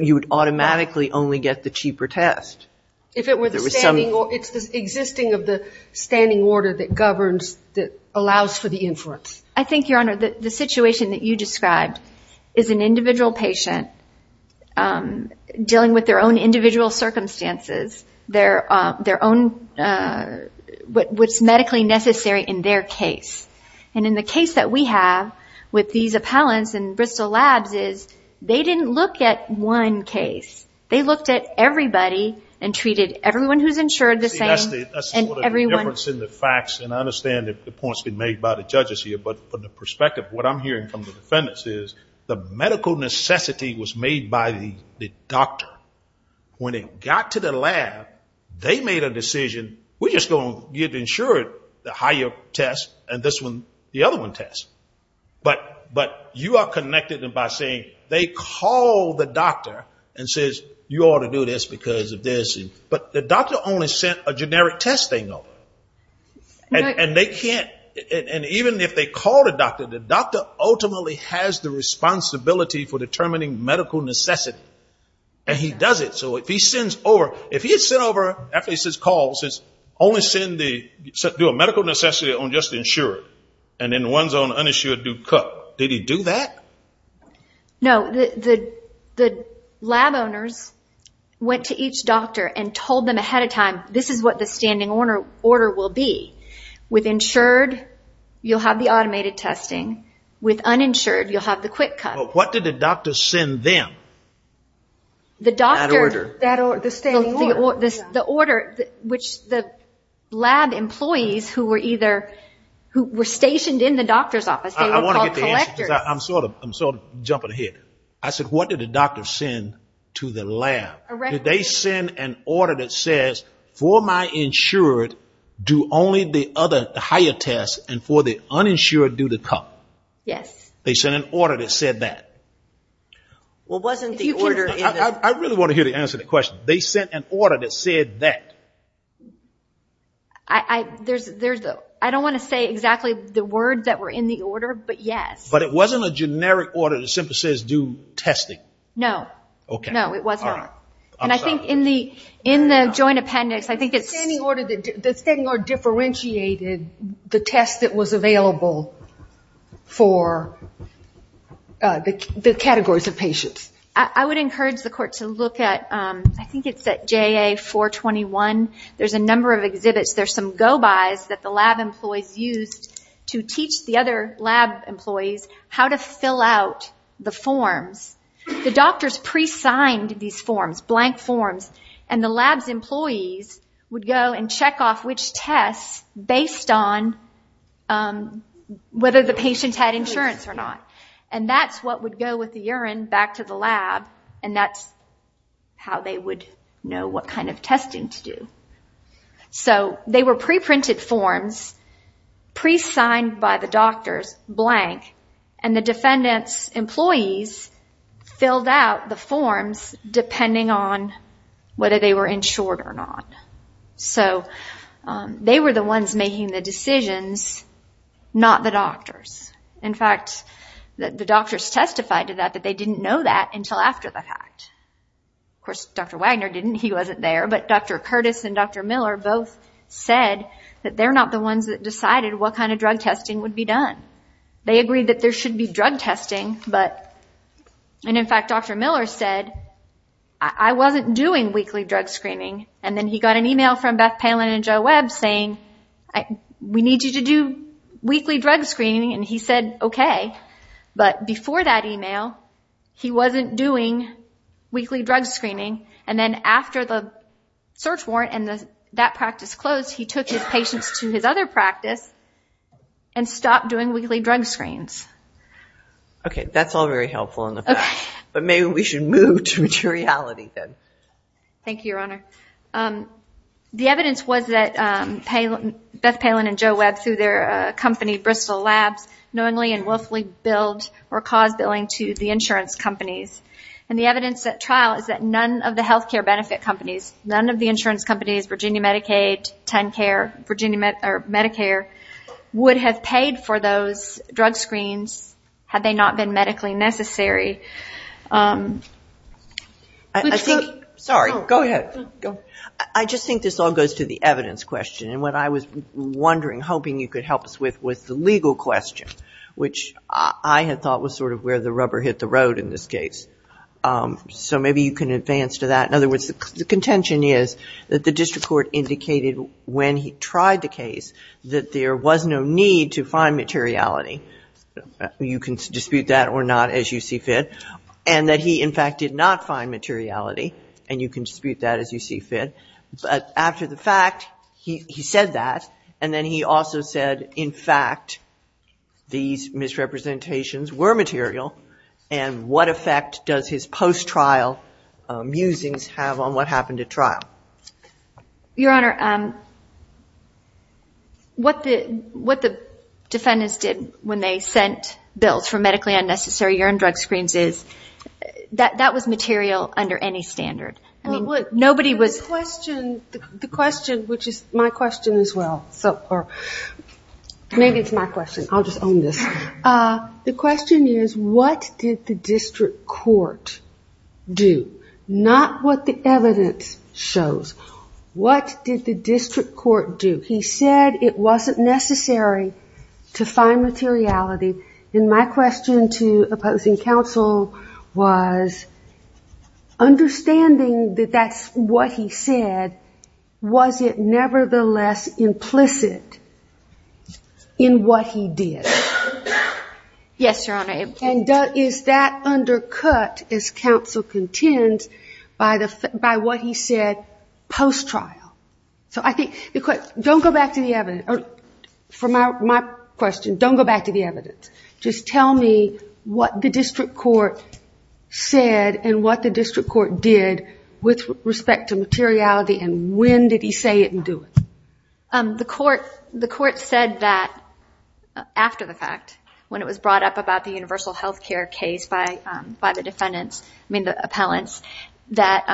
you would automatically only get the cheaper test. If it were the standing, it's the existing of the standing order that governs, that allows for the inference. I think, Your Honor, the situation that you described is an individual patient dealing with their own individual circumstances, their own, what's medically necessary in their case. And in the case that we have with these appellants in Bristol Labs is, they didn't look at one case. They looked at everybody and treated everyone who's insured the same. See, that's the difference in the facts. And I understand the points being made by the judges here. But from the perspective, what I'm hearing from the defendants is, the medical necessity was made by the doctor. When it got to the lab, they made a decision. We're just going to get insured the higher test and this one, the other one test. But you are connected by saying, they call the doctor and says, you ought to do this because of this. But the doctor only sent a generic test they know. And they can't, and even if they call the doctor, the doctor ultimately has the responsibility for determining medical necessity. And he does it. So if he sends over, if he had sent over, after he says call, only send the, do a medical necessity on just the insurer. And in one zone, uninsured, do CUC. Did he do that? No, the lab owners went to each doctor and told them ahead of time, this is what the standing order will be. With insured, you'll have the automated testing. With uninsured, you'll have the quick CUC. What did the doctor send them? The doctor, the order, which the lab employees who were either, who were stationed in the doctor's office. They were called collectors. I'm sort of, I'm sort of jumping ahead. I said, what did the doctor send to the lab? Did they send an order that says for my insured, do only the other, the higher tests and for the uninsured, do the CUC? Yes. They sent an order that said that. Well, wasn't the order... I really want to hear the answer to the question. They sent an order that said that. I don't want to say exactly the word that were in the order, but yes. But it wasn't a generic order that simply says do testing. No. No, it wasn't. All right. And I think in the joint appendix, I think it's... The standing order, the standing order differentiated the test that was available for the categories of patients. I would encourage the court to look at, I think it's at JA 421. There's a number of exhibits. There's some go-bys that the lab employees used to teach the other lab employees how to fill out the forms. The doctors pre-signed these forms, blank forms, and the lab's employees would go and check off which tests based on whether the patient had insurance or not. And that's what would go with the urine back to the lab. And that's how they would know what kind of testing to do. So they were pre-printed forms, pre-signed by the doctors, blank. And the defendant's employees filled out the forms depending on whether they were insured or not. So they were the ones making the decisions, not the doctors. In fact, the doctors testified to that, but they didn't know that until after the fact. Of course, Dr. Wagner didn't. He wasn't there. But Dr. Curtis and Dr. Miller both said that they're not the ones that decided what kind of drug testing would be done. They agreed that there should be drug testing, but... And in fact, Dr. Miller said, I wasn't doing weekly drug screening. And then he got an email from Beth Palin and Joe Webb saying, we need you to do weekly drug screening. And he said, okay. But before that email, he wasn't doing weekly drug screening. And then after the search warrant and that practice closed, he took his patients to his other practice and stopped doing weekly drug screens. Okay, that's all very helpful in the fact. Thank you, Your Honor. The evidence was that Beth Palin and Joe Webb through their company, Bristol Labs, knowingly and willfully billed or caused billing to the insurance companies. And the evidence at trial is that none of the health care benefit companies, none of the insurance companies, Virginia Medicaid, TenCare, Virginia Medicare, would have paid for those drug screens had they not been medically necessary. I think... Sorry, go ahead. I just think this all goes to the evidence question. And what I was wondering, hoping you could help us with the legal question, which I had thought was sort of where the rubber hit the road in this case. So maybe you can advance to that. In other words, the contention is that the district court indicated when he tried the case that there was no need to find materiality. You can dispute that or not as you see fit. And that he, in fact, did not find materiality. And you can dispute that as you see fit. But after the fact, he said that. And then he also said, in fact, these misrepresentations were material. And what effect does his post-trial musings have on what happened at trial? Your Honor, what the defendants did when they sent bills for medically Well, the question, which is my question as well. Maybe it's my question. I'll just own this. The question is, what did the district court do? Not what the evidence shows. What did the district court do? He said it wasn't necessary to find materiality. And my question to opposing counsel was, understanding that that's what he said, was it nevertheless implicit in what he did? Yes, Your Honor. And is that undercut, as counsel contends, by what he said post-trial? For my question, don't go back to the evidence. Tell me what the district court said and what the district court did with respect to materiality, and when did he say it and do it? The court said that after the fact, when it was brought up about the universal health care case by the defendants, I mean the appellants, that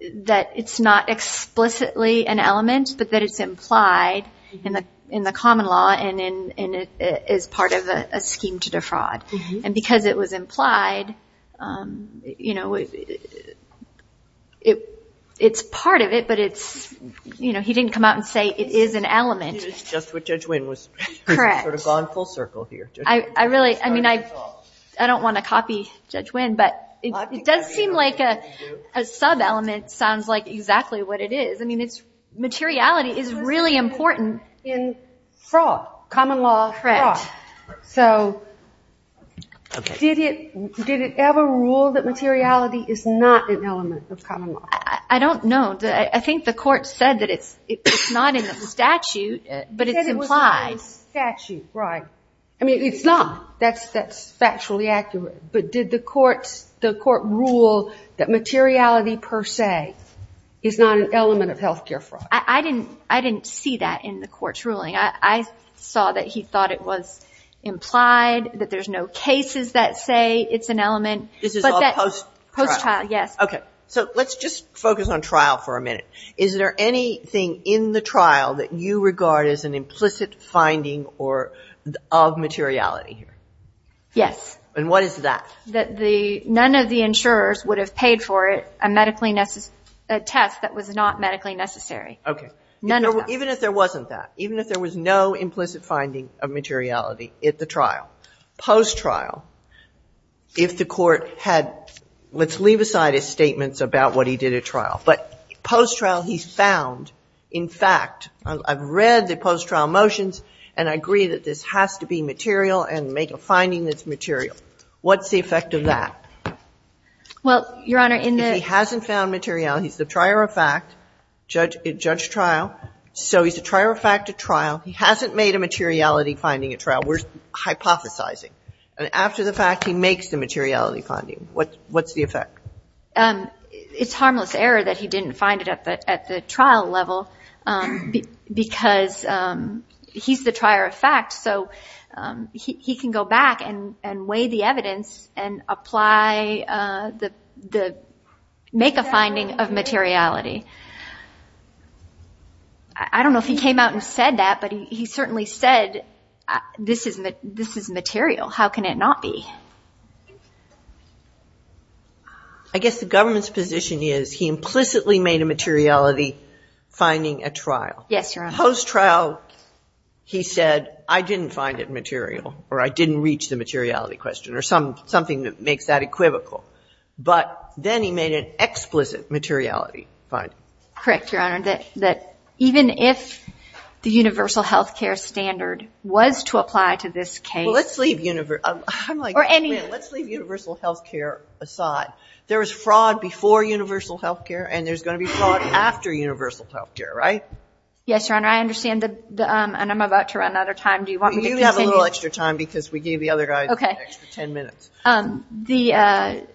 it's not explicitly an element, but that it's implied in the common law and is part of a scheme to defraud. And because it was implied, it's part of it, but he didn't come out and say it is an element. It is just what Judge Wynn was sort of gone full circle here. I don't want to copy Judge Wynn, but it does seem like a sub-element sounds like exactly what it is. Materiality is really important in fraud, common law fraud. So did it ever rule that materiality is not an element of common law? I don't know. I think the court said that it's not in the statute, but it's implied. It said it was not in the statute, right. I mean, it's not. That's factually accurate. But did the court rule that materiality, per se, is not an element of health care fraud? I didn't see that in the court's ruling. I saw that he thought it was implied, that there's no cases that say it's an element. This is all post-trial? Yes. OK. So let's just focus on trial for a minute. Is there anything in the trial that you regard as an implicit finding of materiality? Yes. And what is that? That none of the insurers would have paid for it, a test that was not medically necessary. OK. None of them. Even if there wasn't that, even if there was no implicit finding of materiality at the trial, post-trial, if the court had, let's leave aside his statements about what he did at trial, but post-trial he's found, in fact, I've read the post-trial motions and I agree that this has to be material and make a finding that's material. What's the effect of that? Well, Your Honor, in the If he hasn't found materiality, he's the trier of fact at judge trial. So he's the trier of fact at trial. He hasn't made a materiality finding at trial. We're hypothesizing. And after the fact, he makes the materiality finding. What's the effect? It's harmless error that he didn't find it at the trial level because he's the trier of fact. So he can go back and weigh the evidence and make a finding of materiality. I don't know if he came out and said that, but he certainly said this is material. How can it not be? I guess the government's position is he implicitly made a materiality at trial. Yes, Your Honor. Post-trial, he said, I didn't find it material or I didn't reach the materiality question or something that makes that equivocal. But then he made an explicit materiality finding. Correct, Your Honor. Even if the universal health care standard was to apply to this case. Well, let's leave universal health care aside. There was fraud before universal health care and there's going to be fraud after universal health care, right? Yes, Your Honor. I understand. And I'm about to run out of time. Do you want me to continue? You have a little extra time because we gave the other guy an extra 10 minutes. The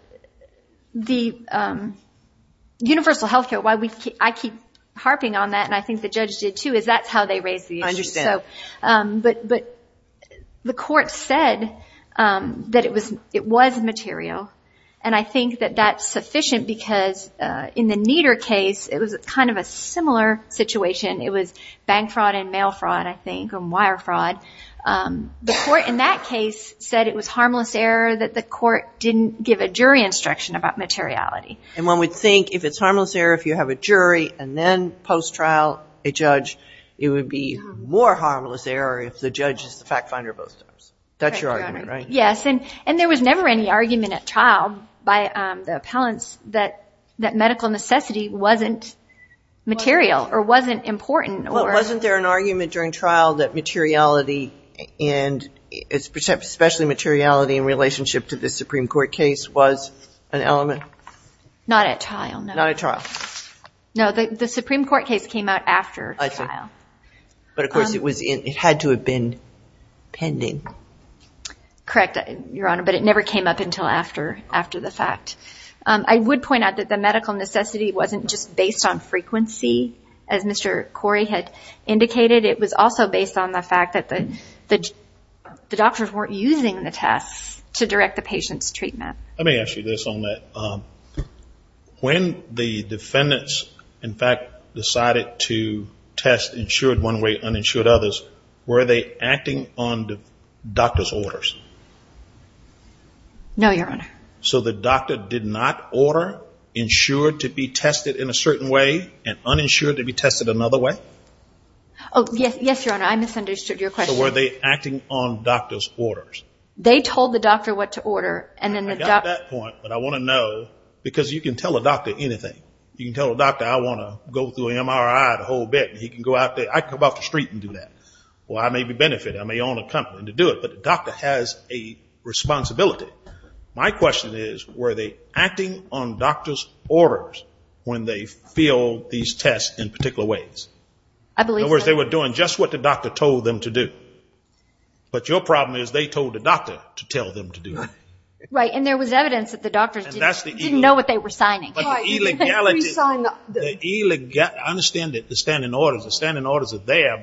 universal health care, why I keep harping on that, and I think the judge did too, is that's how they raised the issue. I understand. But the court said that it was material. And I think that that's sufficient because in the Nieder case, it was kind of a similar situation. It was bank fraud and mail fraud, I think, and wire fraud. The court in that case said it was harmless error that the court didn't give a jury instruction about materiality. And one would think if it's harmless error if you have a jury and then post-trial a judge, it would be more harmless error if the judge is the fact finder both times. That's your argument, right? Yes, and there was never any argument at trial by the appellants that medical necessity wasn't material or wasn't important. Well, wasn't there an argument during trial that materiality and especially materiality in relationship to the Supreme Court case was an element? Not at trial, no. Not at trial. No, the Supreme Court case came out after trial. But of course, it had to have been pending. Correct, Your Honor, but it never came up until after the fact. I would point out that the medical necessity wasn't just based on frequency, as Mr. Corey had indicated. It was also based on the fact that the doctors weren't using the tests to direct the patient's treatment. Let me ask you this on that. When the defendants, in fact, decided to test insured one way, uninsured others, were they acting on the doctor's orders? No, Your Honor. So the doctor did not order insured to be tested in a certain way and uninsured to be tested another way? Oh, yes, Your Honor. I misunderstood your question. So were they acting on doctor's orders? They told the doctor what to order. And then the doctor... I got that point, but I want to know, because you can tell a doctor anything. You can tell a doctor, I want to go through MRI, the whole bit, and he can go out there. I can go off the street and do that. Well, I may be benefited. I may own a company to do it. But the doctor has a responsibility. My question is, were they acting on doctor's orders when they filled these tests in particular ways? I believe so. In other words, they were doing just what the doctor told them to do. But your problem is they told the doctor to tell them to do it. Right, and there was evidence that the doctors didn't know what they were signing. But the illegality...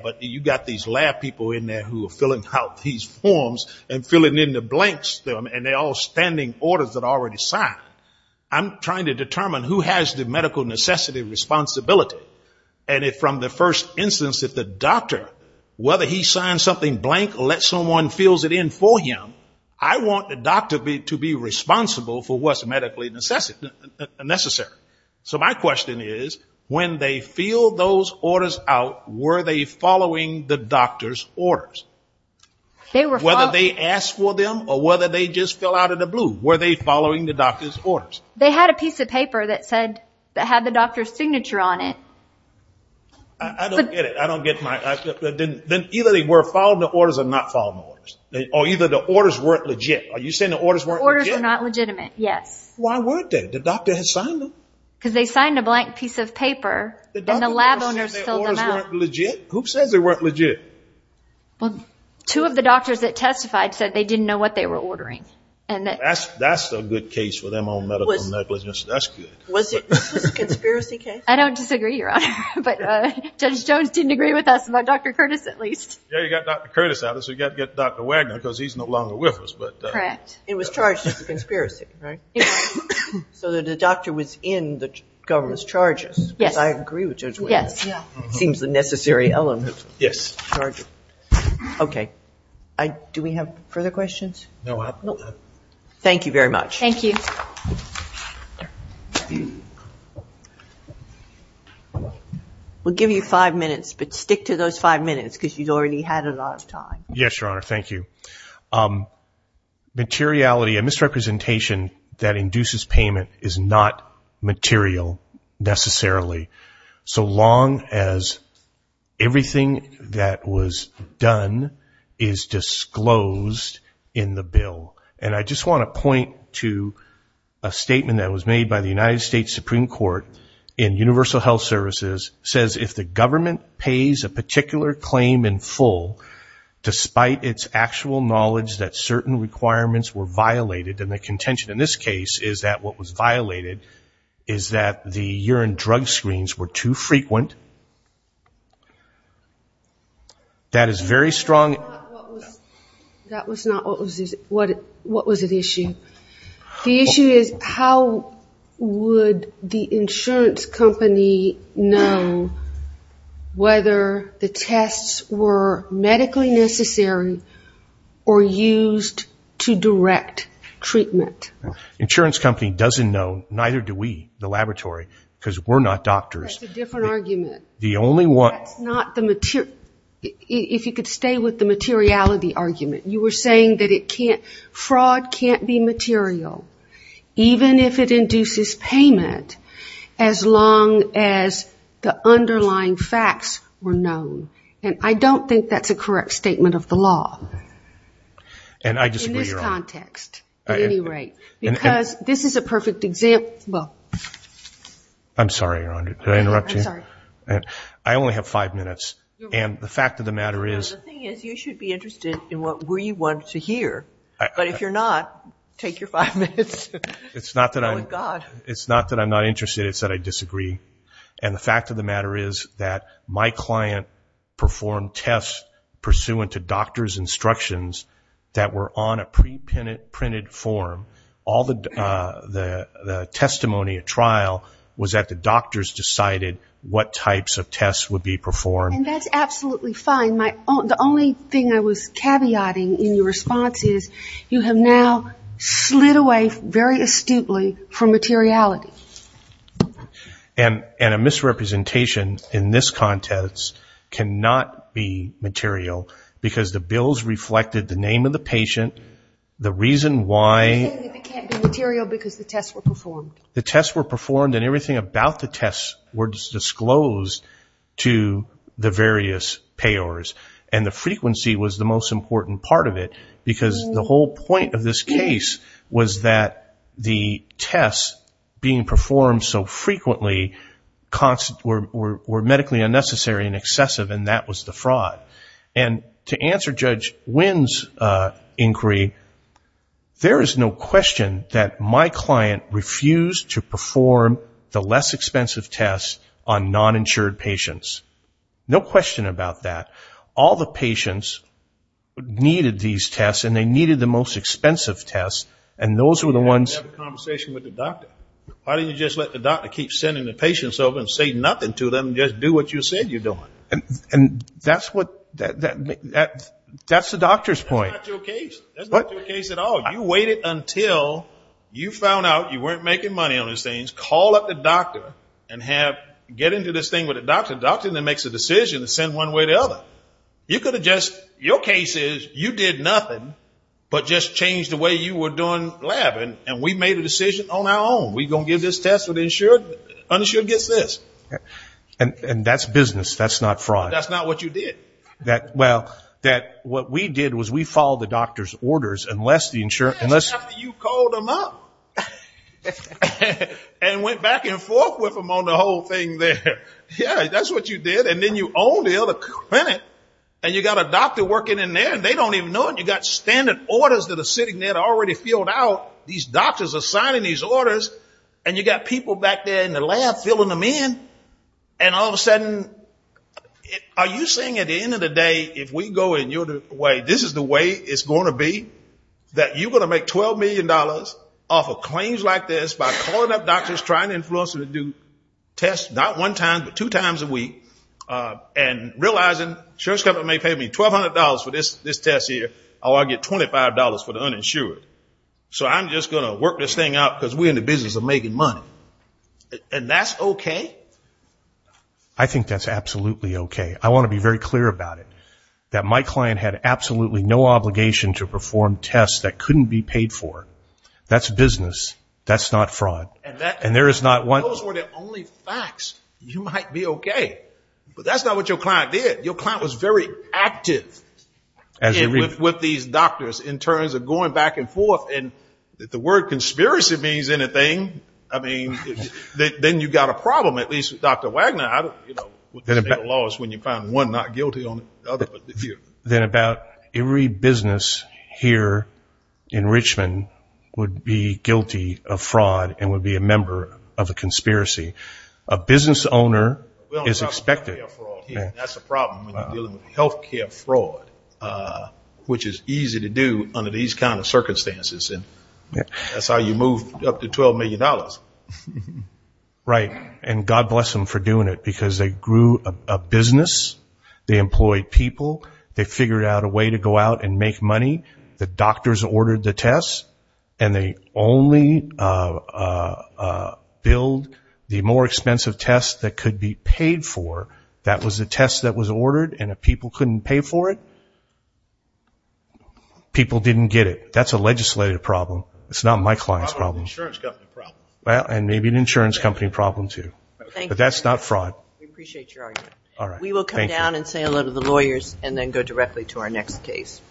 But you got these lab people in there who are filling out these forms and filling in the blanks, and they're all standing orders that are already signed. I'm trying to determine who has the medical necessity responsibility. And if from the first instance, if the doctor, whether he signs something blank, let someone fills it in for him, I want the doctor to be responsible for what's medically necessary. So my question is, when they filled those orders out, were they following the doctor's orders? Whether they asked for them or whether they just fell out of the blue, were they following the doctor's orders? They had a piece of paper that said, that had the doctor's signature on it. I don't get it. I don't get my... Then either they were following the orders or not following the orders. Or either the orders weren't legit. Are you saying the orders were not legitimate? Yes. Why weren't they? The doctor had signed them. Because they signed a blank piece of paper and the lab owners filled them out. Who says they weren't legit? Well, two of the doctors that testified said they didn't know what they were ordering. And that's... That's a good case for them on medical negligence. That's good. Was it a conspiracy case? I don't disagree, Your Honor. But Judge Jones didn't agree with us about Dr. Curtis at least. Yeah, you got Dr. Curtis out. So you got to get Dr. Wagner because he's no longer with us. But... Correct. It was charged as a conspiracy, right? So that the doctor was in the government's charges. Yes. I agree with Judge Wagner. Yes. Yeah. Seems the necessary element. Yes. Okay. Do we have further questions? No. Thank you very much. Thank you. We'll give you five minutes. But stick to those five minutes because you've already had a lot of time. Yes, Your Honor. Thank you. So, materiality and misrepresentation that induces payment is not material necessarily. So long as everything that was done is disclosed in the bill. And I just want to point to a statement that was made by the United States Supreme Court in Universal Health Services says, if the government pays a particular claim in full, despite its actual knowledge that certain requirements were violated. And the contention in this case is that what was violated is that the urine drug screens were too frequent. That is very strong. That was not what was at issue. The issue is how would the insurance company know whether the tests were medically necessary or used to direct treatment? Insurance company doesn't know, neither do we, the laboratory, because we're not doctors. That's a different argument. The only one... That's not the material... If you could stay with the materiality argument. You were saying that it can't... Fraud can't be material, even if it induces payment, as long as the underlying facts were known. And I don't think that's a correct statement of the law in this context, at any rate. Because this is a perfect example... I'm sorry, Your Honor. Did I interrupt you? I'm sorry. I only have five minutes. And the fact of the matter is... You wanted to hear, but if you're not, take your five minutes. It's not that I'm not interested. It's that I disagree. And the fact of the matter is that my client performed tests pursuant to doctor's instructions that were on a pre-printed form. All the testimony at trial was that the doctors decided what types of tests would be performed. And that's absolutely fine. The only thing I was caveating in your response is you have now slid away very astutely from materiality. And a misrepresentation in this context cannot be material because the bills reflected the name of the patient, the reason why... You're saying that it can't be material because the tests were performed. The tests were performed and everything about the tests were disclosed to the various payors. And the frequency was the most important part of it because the whole point of this case was that the tests being performed so frequently were medically unnecessary and excessive. And that was the fraud. And to answer Judge Wynn's inquiry, there is no question that my client refused to perform the less expensive tests on non-insured patients. No question about that. All the patients needed these tests and they needed the most expensive tests. And those were the ones... You had a conversation with the doctor. Why don't you just let the doctor keep sending the patients over and say nothing to them and just do what you said you're doing? And that's what... That's the doctor's point. That's not your case. That's not your case at all. You waited until you found out you weren't making money on these things, call up the doctor and have... Get into this thing with the doctor. The doctor then makes a decision to send one way or the other. You could have just... Your case is you did nothing but just changed the way you were doing lab. And we made a decision on our own. We're going to give this test to the insured. Uninsured gets this. And that's business. That's not fraud. That's not what you did. That... Well, that what we did was we followed the doctor's orders unless the insurer... Yes, after you called them up. And went back and forth with them on the whole thing there. Yeah, that's what you did. And then you own the other clinic and you got a doctor working in there and they don't even know it. You got standard orders that are sitting there already filled out. These doctors are signing these orders and you got people back there in the lab filling them in. And all of a sudden, are you saying at the end of the day, if we go in your way, this is the way it's going to be? That you're going to make $12 million off of claims like this by calling up doctors, trying to influence them to do tests, not one time, but two times a week. And realizing insurance company may pay me $1,200 for this test here, or I'll get $25 for the uninsured. So I'm just going to work this thing out because we're in the business of making money. And that's okay? I think that's absolutely okay. I want to be very clear about it. That my client had absolutely no obligation to perform tests that couldn't be paid for. That's business. That's not fraud. And those were the only facts. You might be okay. But that's not what your client did. Your client was very active with these doctors in terms of going back and forth. And the word conspiracy means anything. I mean, then you got a problem, at least with Dr. Wagner. The state of the law is when you find one not guilty on the other. Then about every business here in Richmond would be guilty of fraud and would be a member of a conspiracy. A business owner is expected. That's a problem when you're dealing with healthcare fraud, which is easy to do under these kinds of circumstances. And that's how you move up to $12 million. Right. And God bless them for doing it because they grew a business. They employed people. They figured out a way to go out and make money. The doctors ordered the tests. And they only billed the more expensive tests that could be paid for. That was the test that was ordered. And if people couldn't pay for it, people didn't get it. That's a legislative problem. It's not my client's problem. Insurance company problem. Well, and maybe an insurance company problem, too. But that's not fraud. We appreciate your argument. All right. We will come down and say hello to the lawyers and then go directly to our next case.